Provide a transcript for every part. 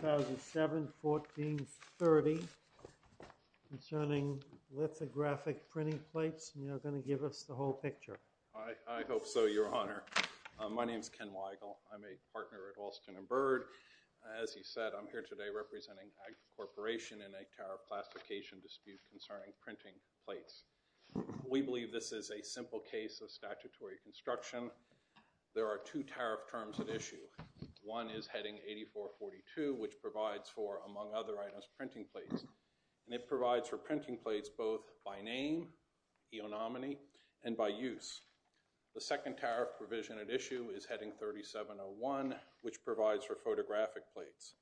2007, 1430, concerning lithographic printing plates, and you're going to give us the whole picture. I hope so, Your Honor. My name's Ken Weigel. I'm a partner at Alston & Byrd. As he said, I'm here today representing AGFA Corporation in a tariff classification dispute concerning printing plates. We believe this is a simple case of statutory construction. There are two tariff terms at issue. One is heading 8442, which provides for, among other items, printing plates. And it provides for printing plates both by name, eonominy, and by use. The second tariff provision at issue is heading 3701, which provides for photographic plates.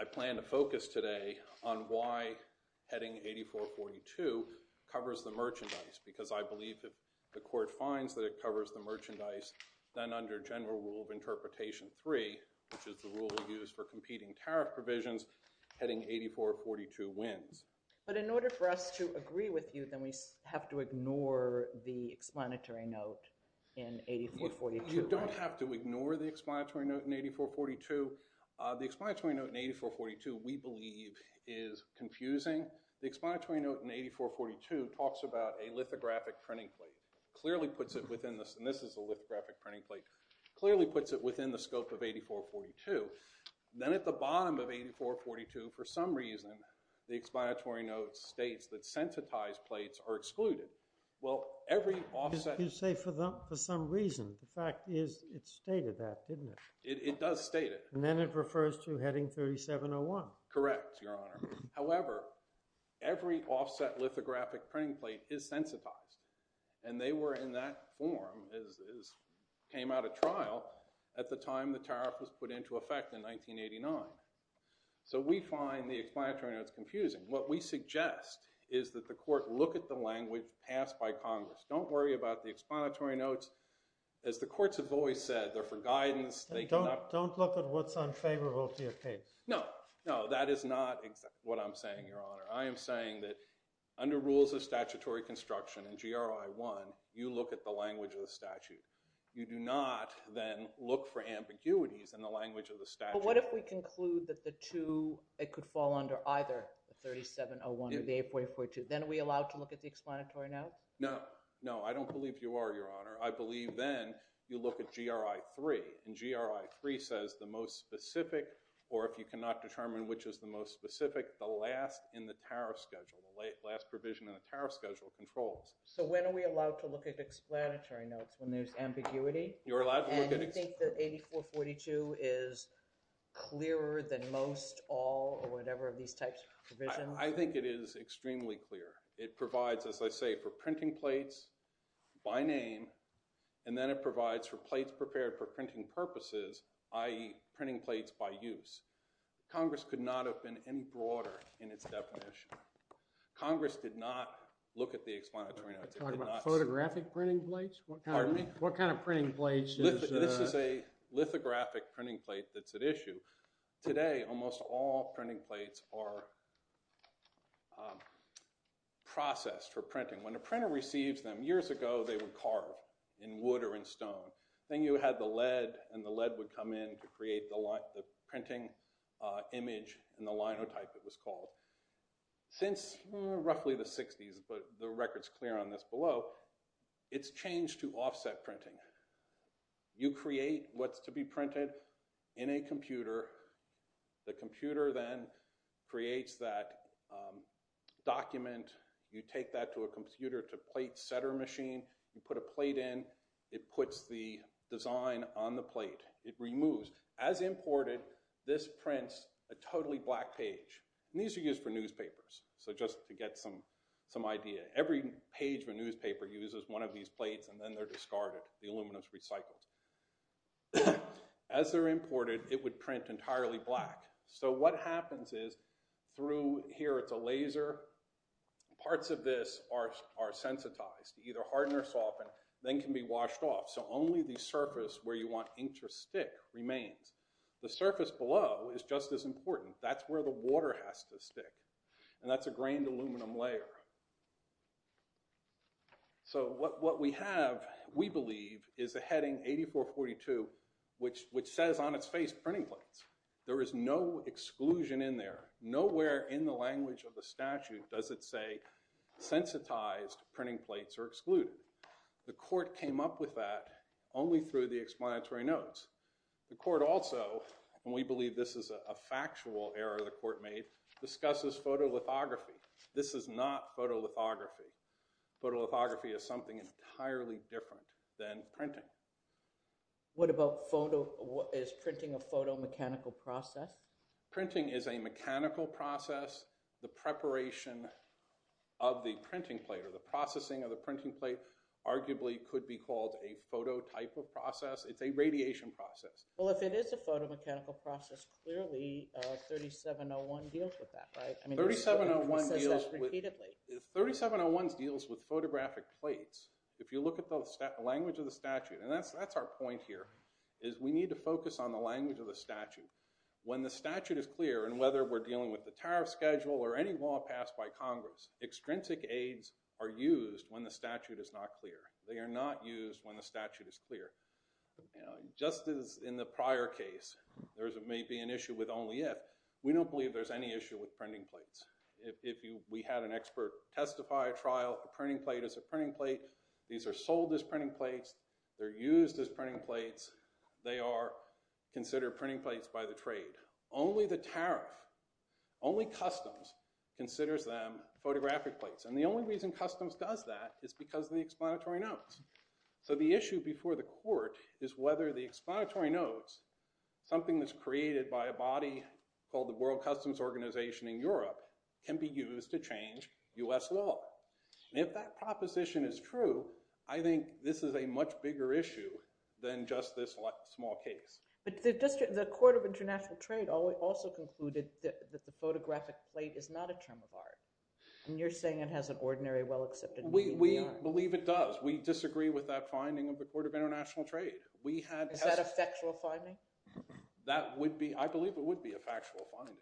I plan to focus today on why heading 8442 covers the merchandise, because I believe if the court finds that it covers the merchandise, then under general rule of interpretation 3, which is the rule we use for competing tariff provisions, heading 8442 wins. But in order for us to agree with you, then we have to ignore the explanatory note in 8442. You don't have to ignore the explanatory note in 8442. The explanatory note in 8442, we believe, is confusing. The explanatory note in 8442 talks about a lithographic printing plate. Clearly puts it within the scope of 8442. Then at the bottom of 8442, for some reason, the explanatory note states that sensitized plates are excluded. Well, every offset... You say for some reason. The fact is it stated that, didn't it? It does state it. And then it refers to heading 3701. Correct, Your Honor. However, every offset lithographic printing plate is sensitized. And they were in that form as came out of trial at the time the tariff was put into effect in 1989. So we find the explanatory notes confusing. What we suggest is that the court look at the language passed by Congress. Don't worry about the explanatory notes. As the courts have always said, they're for guidance. Don't look at what's unfavorable to your case. No, that is not what I'm saying, Your Honor. I am saying that under rules of statutory construction in GRI 1, you look at the language of the statute. You do not then look for ambiguities in the language of the statute. But what if we conclude that the 2, it could fall under either the 3701 or the 8442? Then are we allowed to look at the explanatory notes? No. No, I don't believe you are, Your Honor. I believe then you look at GRI 3, and GRI 3 says the most specific, or if you cannot determine which is the most specific, the last in the tariff schedule, the last provision in the tariff schedule controls. So when are we allowed to look at explanatory notes when there's ambiguity? And you think that 8442 is clearer than most, all, or whatever of these types of provisions? I think it is extremely clear. It provides, as I say, for printing plates by name, and then it provides for plates prepared for printing purposes, i.e. printing plates by use. Congress could not have been any broader in its definition. Congress did not look at the explanatory notes. You're talking about photographic printing plates? Pardon me? What kind of printing plates? This is a lithographic printing plate that's at issue. Today, almost all printing plates are processed for printing. When a printer receives them, years ago they were carved in wood or in stone. Then you had the lead, and the lead would come in to create the printing image, and the linotype it was called. Since roughly the 60s, but the record's clear on this below, it's changed to offset printing. You create what's to be printed in a computer. The computer then creates that document. You take that to a computer to plate setter machine. You put a plate in. It puts the design on the plate. It removes. As imported, this prints a totally black page. These are used for newspapers, so just to get some idea. Every page of a newspaper uses one of these plates, and then they're discarded. The aluminum's recycled. As they're imported, it would print entirely black. What happens is through here, it's a laser. Parts of this are sensitized, either harden or soften, then can be washed off, so only the surface where you want ink to stick remains. The surface below is just as important. That's where the water has to stick, and that's a grained aluminum layer. What we have, we believe, is a heading 8442, which says on its face, printing plates. There is no exclusion in there. Nowhere in the language of the statute does it say sensitized printing plates are excluded. The court came up with that only through the explanatory notes. The court also, and we believe this is a factual error the court made, discusses photolithography. This is not photolithography. Photolithography is something entirely different than printing. What about photo—is printing a photo-mechanical process? Printing is a mechanical process. The preparation of the printing plate or the processing of the printing plate arguably could be called a photo-type of process. It's a radiation process. Well, if it is a photo-mechanical process, clearly 3701 deals with that, right? 3701 deals with photographic plates. If you look at the language of the statute, and that's our point here, is we need to focus on the language of the statute. When the statute is clear, and whether we're dealing with the tariff schedule or any law passed by Congress, extrinsic aids are used when the statute is not clear. They are not used when the statute is clear. Just as in the prior case, there may be an issue with only if, we don't believe there's any issue with printing plates. If we had an expert testify a trial, a printing plate is a printing plate. These are sold as printing plates. They're used as printing plates. They are considered printing plates by the trade. Only the tariff, only customs considers them photographic plates. And the only reason customs does that is because of the explanatory notes. So the issue before the court is whether the explanatory notes, something that's created by a body called the World Customs Organization in Europe, can be used to change U.S. law. And if that proposition is true, I think this is a much bigger issue than just this small case. But the Court of International Trade also concluded that the photographic plate is not a term of art, and you're saying it has an ordinary well-accepted meaning beyond. We believe it does. We disagree with that finding of the Court of International Trade. Is that a factual finding? I believe it would be a factual finding,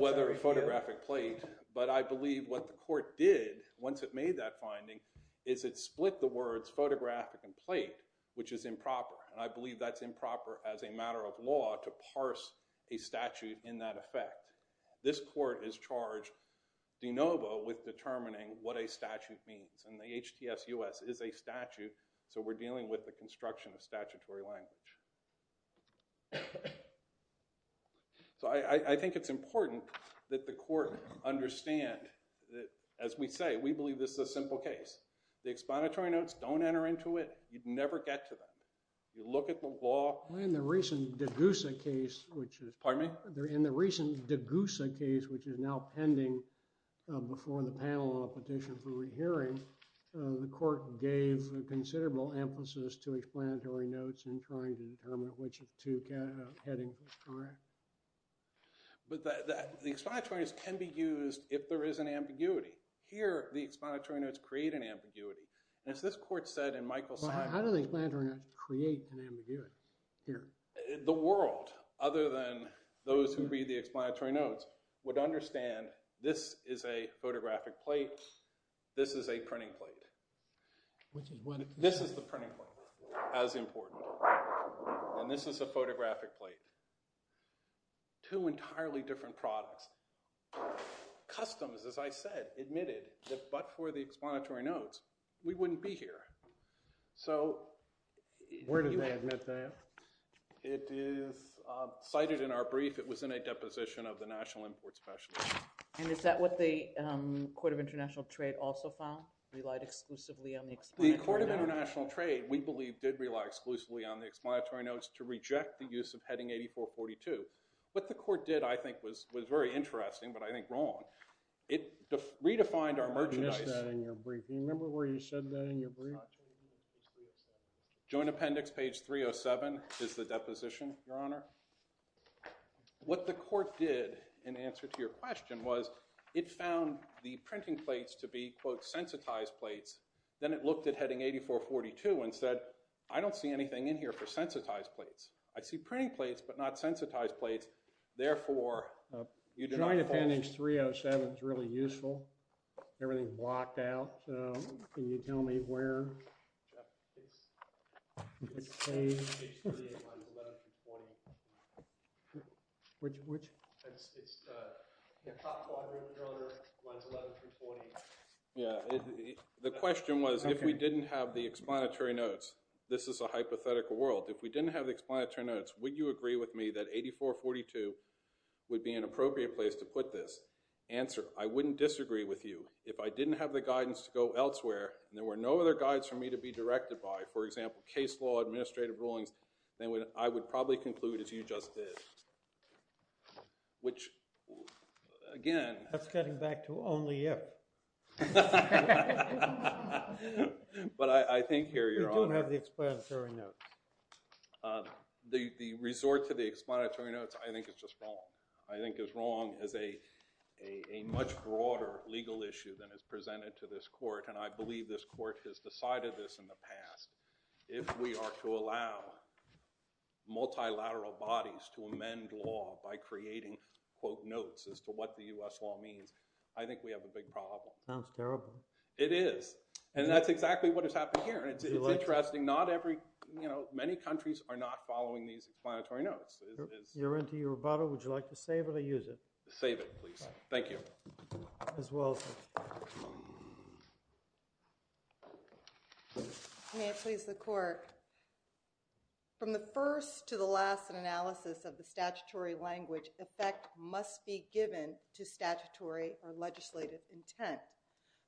whether photographic plate. But I believe what the court did once it made that finding is it split the words photographic and plate, which is improper. And I believe that's improper as a matter of law to parse a statute in that effect. This court is charged de novo with determining what a statute means. And the HTSUS is a statute, so we're dealing with the construction of statutory language. So I think it's important that the court understand that, as we say, we believe this is a simple case. The explanatory notes don't enter into it. You'd never get to them. You look at the law. In the recent Degusa case, which is now pending before the panel on a petition for re-hearing, the court gave considerable emphasis to explanatory notes in trying to determine which of two headings was correct. But the explanatory notes can be used if there is an ambiguity. Here, the explanatory notes create an ambiguity. As this court said in Michael Sagan's— How do the explanatory notes create an ambiguity here? The world, other than those who read the explanatory notes, would understand this is a photographic plate. This is a printing plate. This is the printing plate, as important. And this is a photographic plate. Two entirely different products. Customs, as I said, admitted that but for the explanatory notes, we wouldn't be here. So— Where did they admit that? It is cited in our brief. It was in a deposition of the National Import Specialist. And is that what the Court of International Trade also found, relied exclusively on the explanatory notes? The Court of International Trade, we believe, did rely exclusively on the explanatory notes to reject the use of heading 8442. What the court did, I think, was very interesting but I think wrong. It redefined our merchandise— I missed that in your brief. Do you remember where you said that in your brief? Joint Appendix, page 307, is the deposition, Your Honor. What the court did, in answer to your question, was it found the printing plates to be, quote, sensitized plates. Then it looked at heading 8442 and said, I don't see anything in here for sensitized plates. I see printing plates but not sensitized plates, therefore— Joint Appendix 307 is really useful. Everything is blocked out. Can you tell me where it's saved? Page 38, lines 11 through 20. Which? It's the top quadrant, Your Honor, lines 11 through 20. Yeah, the question was if we didn't have the explanatory notes. This is a hypothetical world. If we didn't have the explanatory notes, would you agree with me that 8442 would be an appropriate place to put this? Answer, I wouldn't disagree with you. If I didn't have the guidance to go elsewhere and there were no other guides for me to be directed by, for example, case law, administrative rulings, then I would probably conclude as you just did, which, again— That's getting back to only if. But I think here, Your Honor— You don't have the explanatory notes. The resort to the explanatory notes I think is just wrong. I think is wrong as a much broader legal issue than is presented to this court. And I believe this court has decided this in the past. If we are to allow multilateral bodies to amend law by creating, quote, notes as to what the U.S. law means, I think we have a big problem. Sounds terrible. It is. And that's exactly what has happened here. It's interesting. Many countries are not following these explanatory notes. You're into your rubato. Would you like to save it or use it? Save it, please. Thank you. As well, sir. May it please the Court. From the first to the last analysis of the statutory language, effect must be given to statutory or legislative intent.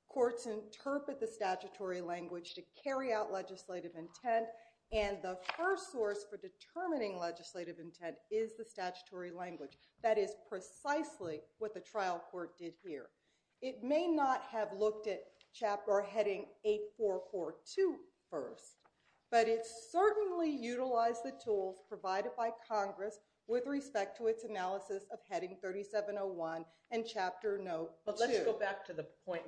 Courts interpret the statutory language to carry out legislative intent, and the first source for determining legislative intent is the statutory language. That is precisely what the trial court did here. It may not have looked at heading 8442 first, but it certainly utilized the tools provided by Congress with respect to its analysis of heading 3701 and chapter no. 2. But let's go back to the point.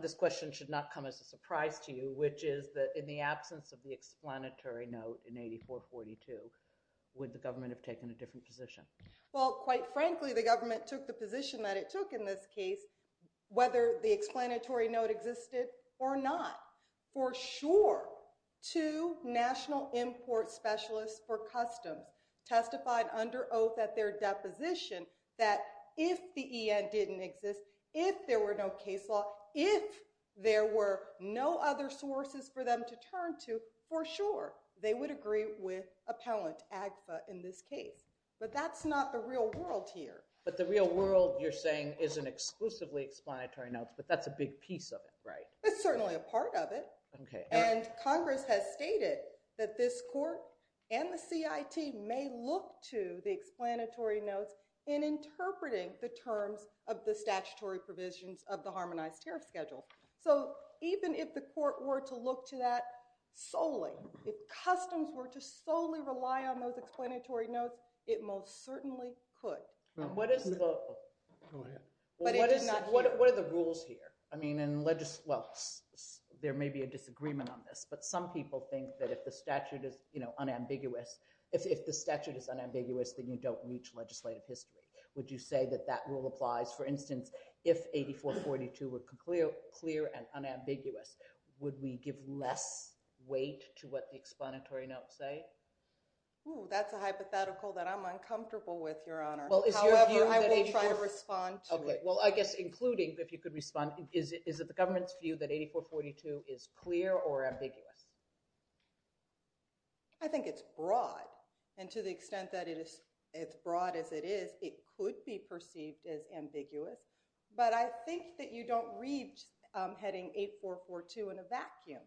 This question should not come as a surprise to you, which is that in the absence of the explanatory note in 8442, would the government have taken a different position? Well, quite frankly, the government took the position that it took in this case, whether the explanatory note existed or not. For sure, two national import specialists for customs testified under oath at their deposition that if the EN didn't exist, if there were no case law, if there were no other sources for them to turn to, for sure, they would agree with Appellant Agfa in this case. But that's not the real world here. But the real world, you're saying, is an exclusively explanatory note, but that's a big piece of it, right? It's certainly a part of it. And Congress has stated that this court and the CIT may look to the explanatory notes in interpreting the terms of the statutory provisions of the Harmonized Tariff Schedule. So even if the court were to look to that solely, if customs were to solely rely on those explanatory notes, it most certainly could. What are the rules here? I mean, there may be a disagreement on this, but some people think that if the statute is unambiguous, then you don't reach legislative history. Would you say that that rule applies? For instance, if 8442 were clear and unambiguous, would we give less weight to what the explanatory notes say? That's a hypothetical that I'm uncomfortable with, Your Honor. However, I will try to respond to it. Well, I guess including, if you could respond, is it the government's view that 8442 is clear or ambiguous? I think it's broad. And to the extent that it is as broad as it is, it could be perceived as ambiguous. But I think that you don't reach heading 8442 in a vacuum.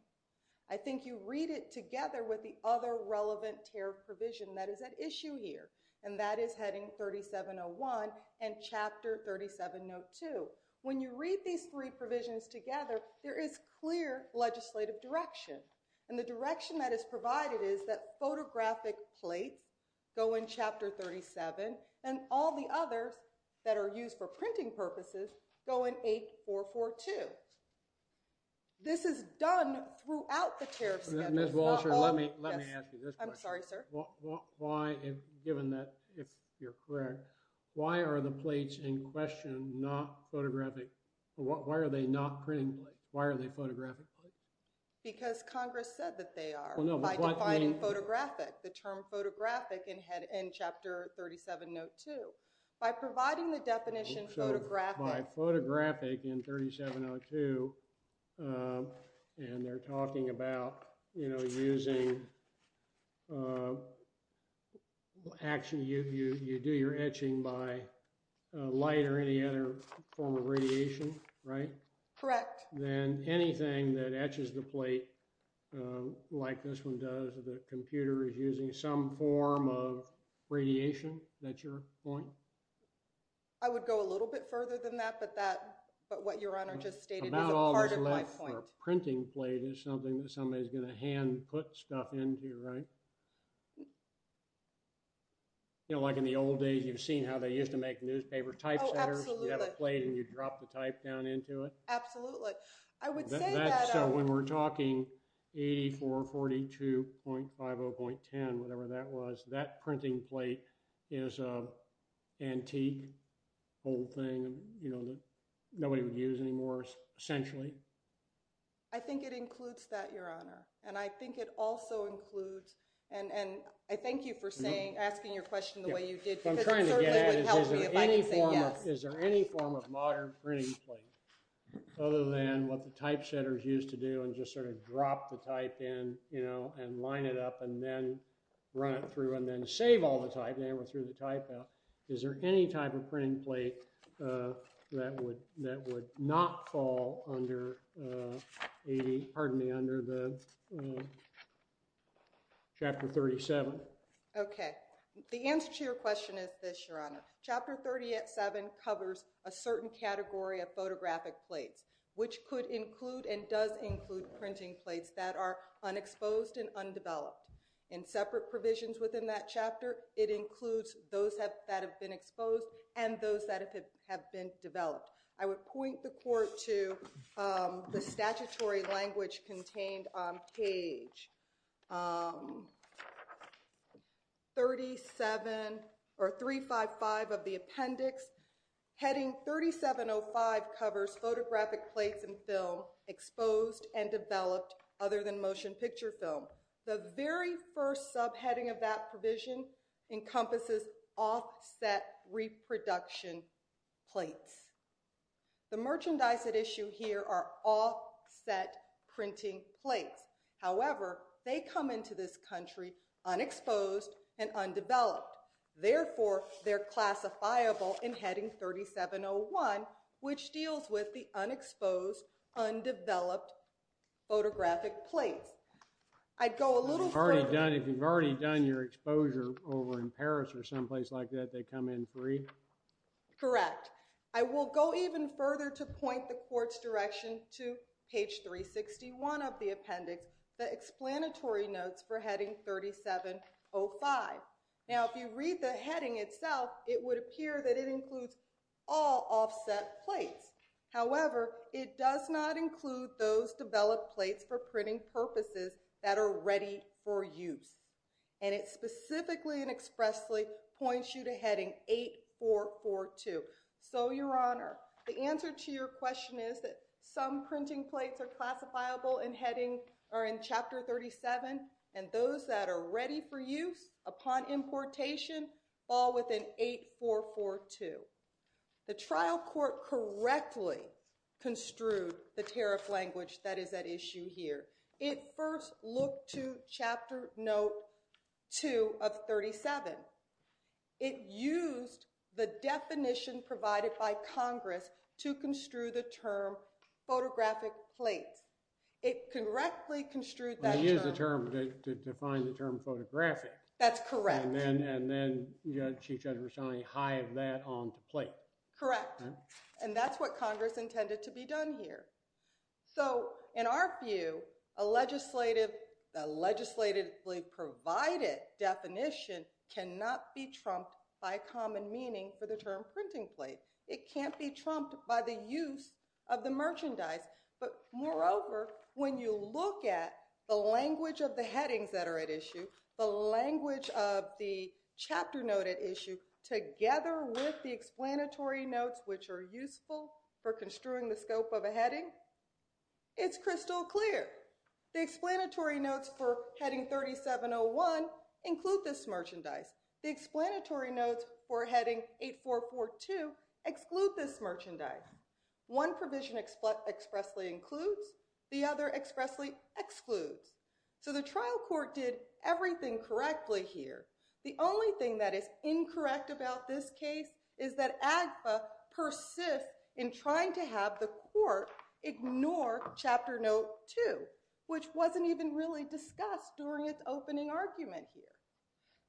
I think you read it together with the other relevant tariff provision that is at issue here, and that is heading 3701 and Chapter 3702. When you read these three provisions together, there is clear legislative direction. And the direction that is provided is that photographic plates go in Chapter 37, and all the others that are used for printing purposes go in 8442. This is done throughout the tariff schedule. Ms. Walsh, let me ask you this question. I'm sorry, sir. Given that, if you're correct, why are the plates in question not photographic? Why are they not printing plates? Why are they photographic plates? Because Congress said that they are. By dividing photographic, the term photographic, in Chapter 3702. By providing the definition photographic. So by photographic in 3702, and they're talking about, you know, using action, you do your etching by light or any other form of radiation, right? Correct. Then anything that etches the plate, like this one does, the computer is using some form of radiation, that's your point? I would go a little bit further than that, but what your Honor just stated is a part of my point. A printing plate is something that somebody's going to hand put stuff into, right? You know, like in the old days, you've seen how they used to make newspaper typesetters? Oh, absolutely. You have a plate and you drop the type down into it? Absolutely. I would say that... So when we're talking 8442.50.10, whatever that was, that printing plate is an antique, old thing, you know, that nobody would use anymore, essentially? I think it includes that, your Honor. And I think it also includes, and I thank you for asking your question the way you did, because it certainly would help me if I could say yes. Is there any form of modern printing plate other than what the typesetters used to do and just sort of drop the type in, you know, and line it up and then run it through and then save all the type? Is there any type of printing plate that would not fall under Chapter 37? Okay. The answer to your question is this, your Honor. Chapter 37 covers a certain category of photographic plates, which could include and does include printing plates that are unexposed and undeveloped. In separate provisions within that chapter, it includes those that have been exposed and those that have been developed. I would point the Court to the statutory language contained on page 355 of the appendix. Heading 3705 covers photographic plates and film exposed and developed other than motion picture film. The very first subheading of that provision encompasses offset reproduction plates. The merchandise at issue here are offset printing plates. However, they come into this country unexposed and undeveloped. If you've already done your exposure over in Paris or someplace like that, they come in free? Correct. I will go even further to point the Court's direction to page 361 of the appendix, the explanatory notes for heading 3705. Now, if you read the heading itself, it would appear that it includes all offset plates. However, it does not include those developed plates for printing purposes that are ready for use. And it specifically and expressly points you to heading 8442. So, Your Honor, the answer to your question is that some printing plates are classifiable in heading or in Chapter 37, and those that are ready for use upon importation fall within 8442. The trial court correctly construed the tariff language that is at issue here. It first looked to Chapter Note 2 of 37. It used the definition provided by Congress to construe the term photographic plates. It correctly construed that term. They used the term to define the term photographic. That's correct. And then Chief Judge Roshani hived that onto plate. Correct. And that's what Congress intended to be done here. So, in our view, a legislatively provided definition cannot be trumped by common meaning for the term printing plate. It can't be trumped by the use of the merchandise. But, moreover, when you look at the language of the headings that are at issue, the language of the Chapter Note at issue together with the explanatory notes, which are useful for construing the scope of a heading, it's crystal clear. The explanatory notes for Heading 3701 include this merchandise. The explanatory notes for Heading 8442 exclude this merchandise. One provision expressly includes. The other expressly excludes. So the trial court did everything correctly here. The only thing that is incorrect about this case is that AGFA persists in trying to have the court ignore Chapter Note 2, which wasn't even really discussed during its opening argument here.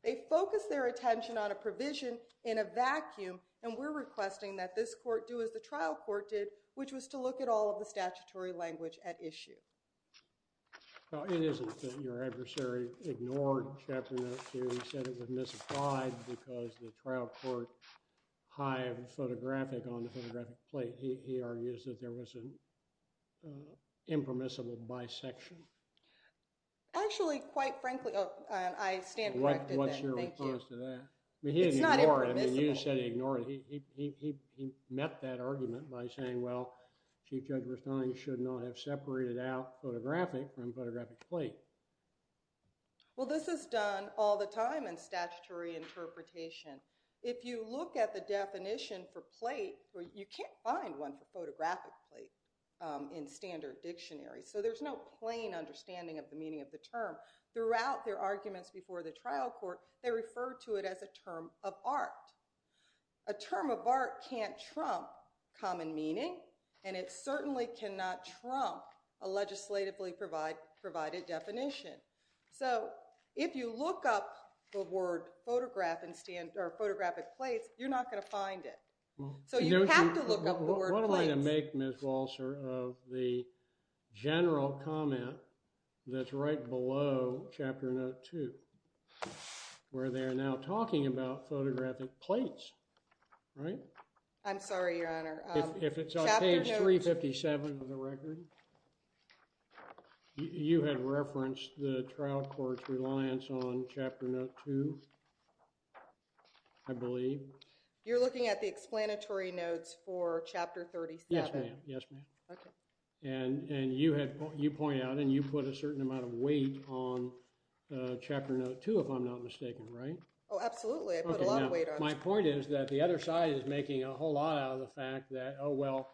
They focus their attention on a provision in a vacuum, and we're requesting that this court do as the trial court did, which was to look at all of the statutory language at issue. It isn't that your adversary ignored Chapter Note 2. He said it was misapplied because the trial court hived photographic on the photographic plate. He argues that there was an impermissible bisection. Actually, quite frankly, I stand corrected. What's your response to that? It's not impermissible. He didn't ignore it. I mean, you said he ignored it. He met that argument by saying, well, Chief Judge Verstein should not have separated out photographic from photographic plate. Well, this is done all the time in statutory interpretation. If you look at the definition for plate, you can't find one for photographic plate in standard dictionary. So there's no plain understanding of the meaning of the term. Throughout their arguments before the trial court, they referred to it as a term of art. A term of art can't trump common meaning, and it certainly cannot trump a legislatively provided definition. So if you look up the word photographic plates, you're not going to find it. What am I to make, Ms. Walser, of the general comment that's right below Chapter Note 2, where they're now talking about photographic plates, right? I'm sorry, Your Honor. If it's on page 357 of the record, you had referenced the trial court's reliance on Chapter Note 2, I believe. You're looking at the explanatory notes for Chapter 37? Yes, ma'am. Yes, ma'am. Okay. And you point out, and you put a certain amount of weight on Chapter Note 2, if I'm not mistaken, right? Oh, absolutely. I put a lot of weight on it. My point is that the other side is making a whole lot out of the fact that, oh, well,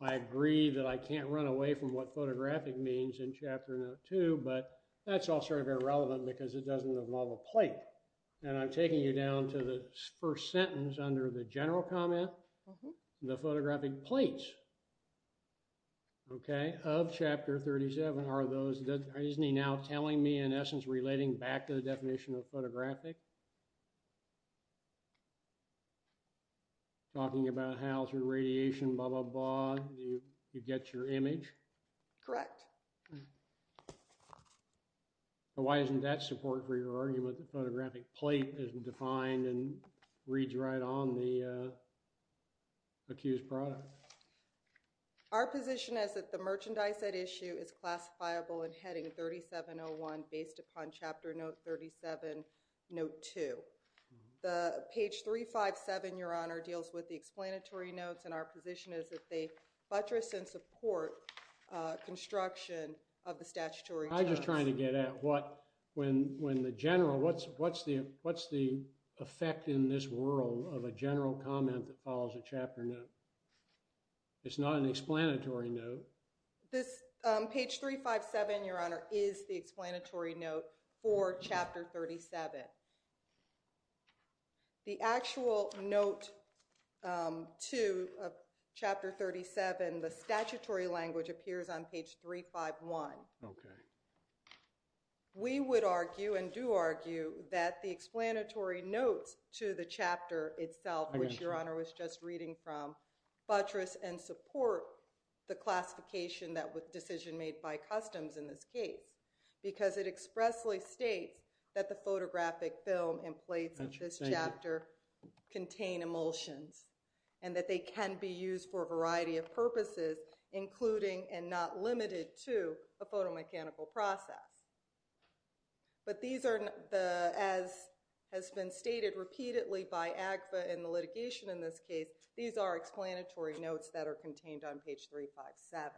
I agree that I can't run away from what photographic means in Chapter Note 2, but that's all sort of irrelevant because it doesn't involve a plate. And I'm taking you down to the first sentence under the general comment, the photographic plates, okay, of Chapter 37. Are those, isn't he now telling me, in essence, relating back to the definition of photographic? Talking about how through radiation, blah, blah, blah, you get your image? Correct. Why isn't that support for your argument that photographic plate isn't defined and reads right on the accused product? Our position is that the merchandise at issue is classifiable in Heading 3701 based upon Chapter Note 37, Note 2. Page 357, Your Honor, deals with the explanatory notes, and our position is that they buttress and support construction of the statutory notes. I'm just trying to get at what, when the general, what's the effect in this world of a general comment that follows a chapter note? It's not an explanatory note. Page 357, Your Honor, is the explanatory note for Chapter 37. The actual note to Chapter 37, the statutory language appears on page 351. We would argue, and do argue, that the explanatory notes to the chapter itself, which Your Honor was just reading from, buttress and support the classification that was decision made by customs in this case, because it expressly states that the photographic film and plates of this chapter contain emulsions, and that they can be used for a variety of purposes, including and not limited to a photomechanical process. But these are, as has been stated repeatedly by AGFA in the litigation in this case, these are explanatory notes that are contained on page 357.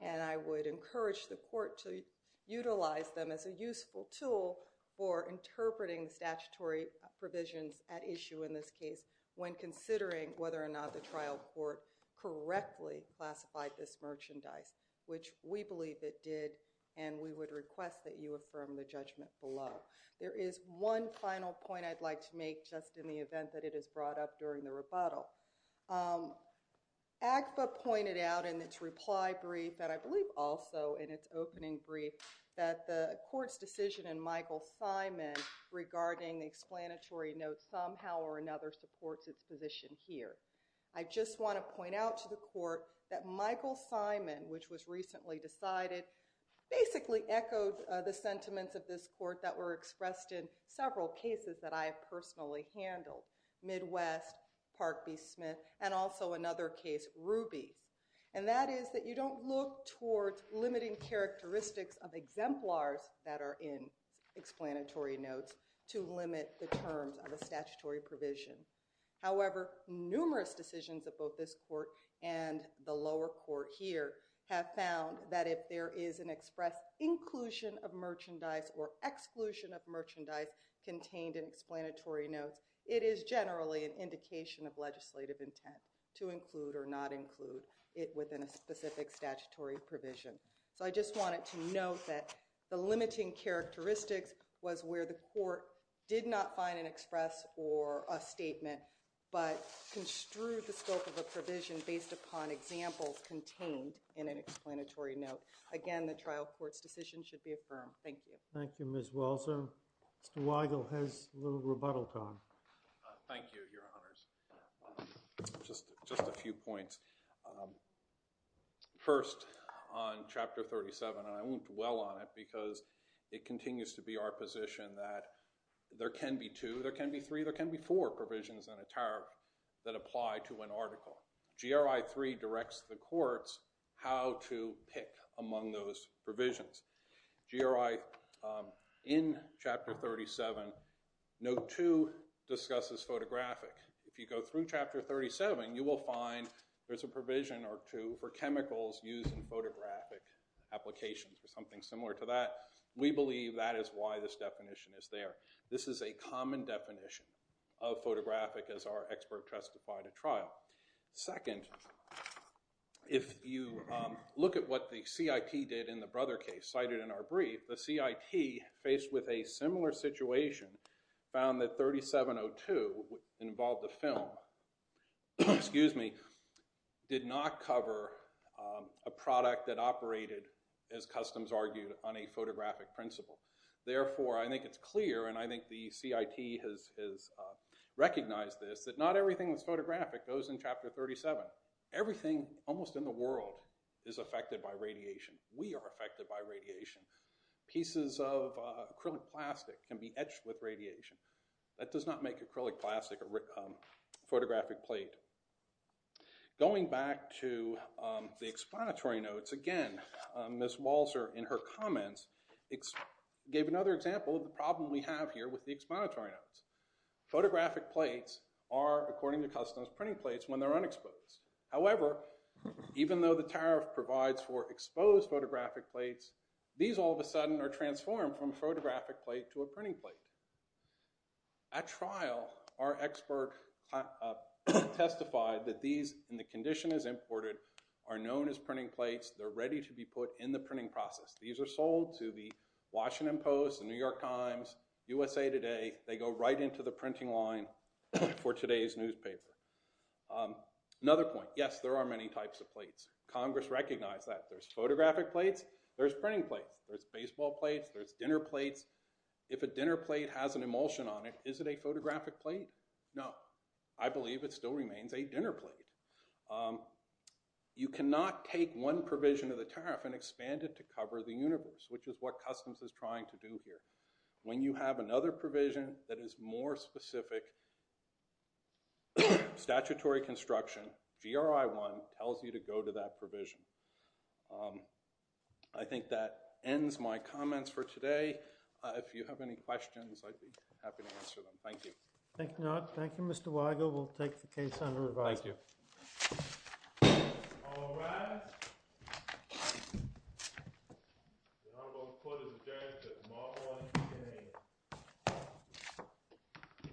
And I would encourage the court to utilize them as a useful tool for interpreting statutory provisions at issue in this case, when considering whether or not the trial court correctly classified this merchandise, which we believe it did, and we would request that you affirm the judgment below. There is one final point I'd like to make, just in the event that it is brought up during the rebuttal. AGFA pointed out in its reply brief, and I believe also in its opening brief, that the court's decision in Michael Simon regarding explanatory notes somehow or another supports its position here. I just want to point out to the court that Michael Simon, which was recently decided, basically echoed the sentiments of this court that were expressed in several cases that I have personally handled. Midwest, Park v. Smith, and also another case, Rubies. And that is that you don't look towards limiting characteristics of exemplars that are in explanatory notes to limit the terms of a statutory provision. However, numerous decisions of both this court and the lower court here have found that if there is an express inclusion of merchandise or exclusion of merchandise contained in explanatory notes, it is generally an indication of legislative intent to include or not include it within a specific statutory provision. So I just wanted to note that the limiting characteristics was where the court did not find an express or a statement, but construed the scope of a provision based upon examples contained in an explanatory note. Again, the trial court's decision should be affirmed. Thank you. Thank you, Ms. Walzer. Mr. Weigel has a little rebuttal time. Thank you, Your Honors. Just a few points. First, on Chapter 37, and I won't dwell on it because it continues to be our position that there can be two, there can be three, there can be four provisions on a tariff that apply to an article. GRI 3 directs the courts how to pick among those provisions. GRI in Chapter 37, Note 2 discusses photographic. If you go through Chapter 37, you will find there's a provision or two for chemicals used in photographic applications or something similar to that. We believe that is why this definition is there. This is a common definition of photographic as our expert testified at trial. Second, if you look at what the CIT did in the Brother case cited in our brief, the CIT, faced with a similar situation, found that 3702, which involved the film, did not cover a product that operated, as customs argued, on a photographic principle. Therefore, I think it's clear, and I think the CIT has recognized this, that not everything that's photographic goes in Chapter 37. Everything, almost in the world, is affected by radiation. We are affected by radiation. Pieces of acrylic plastic can be etched with radiation. That does not make acrylic plastic a photographic plate. Going back to the explanatory notes, again, Ms. Walzer, in her comments, gave another example of the problem we have here with the explanatory notes. Photographic plates are, according to customs, printing plates when they're unexposed. However, even though the tariff provides for exposed photographic plates, these all of a sudden are transformed from a photographic plate to a printing plate. At trial, our expert testified that these, in the condition as imported, are known as printing plates. They're ready to be put in the printing process. These are sold to the Washington Post, the New York Times, USA Today. They go right into the printing line for today's newspaper. Another point, yes, there are many types of plates. Congress recognized that. There's photographic plates. There's printing plates. There's baseball plates. There's dinner plates. If a dinner plate has an emulsion on it, is it a photographic plate? No. I believe it still remains a dinner plate. You cannot take one provision of the tariff and expand it to cover the universe, which is what customs is trying to do here. When you have another provision that is more specific, statutory construction, GRI 1 tells you to go to that provision. I think that ends my comments for today. If you have any questions, I'd be happy to answer them. Thank you. Thank you, Mr. Weigel. We'll take the case under review. Thank you. All rise. I'm going to put his address at the bottom of the name.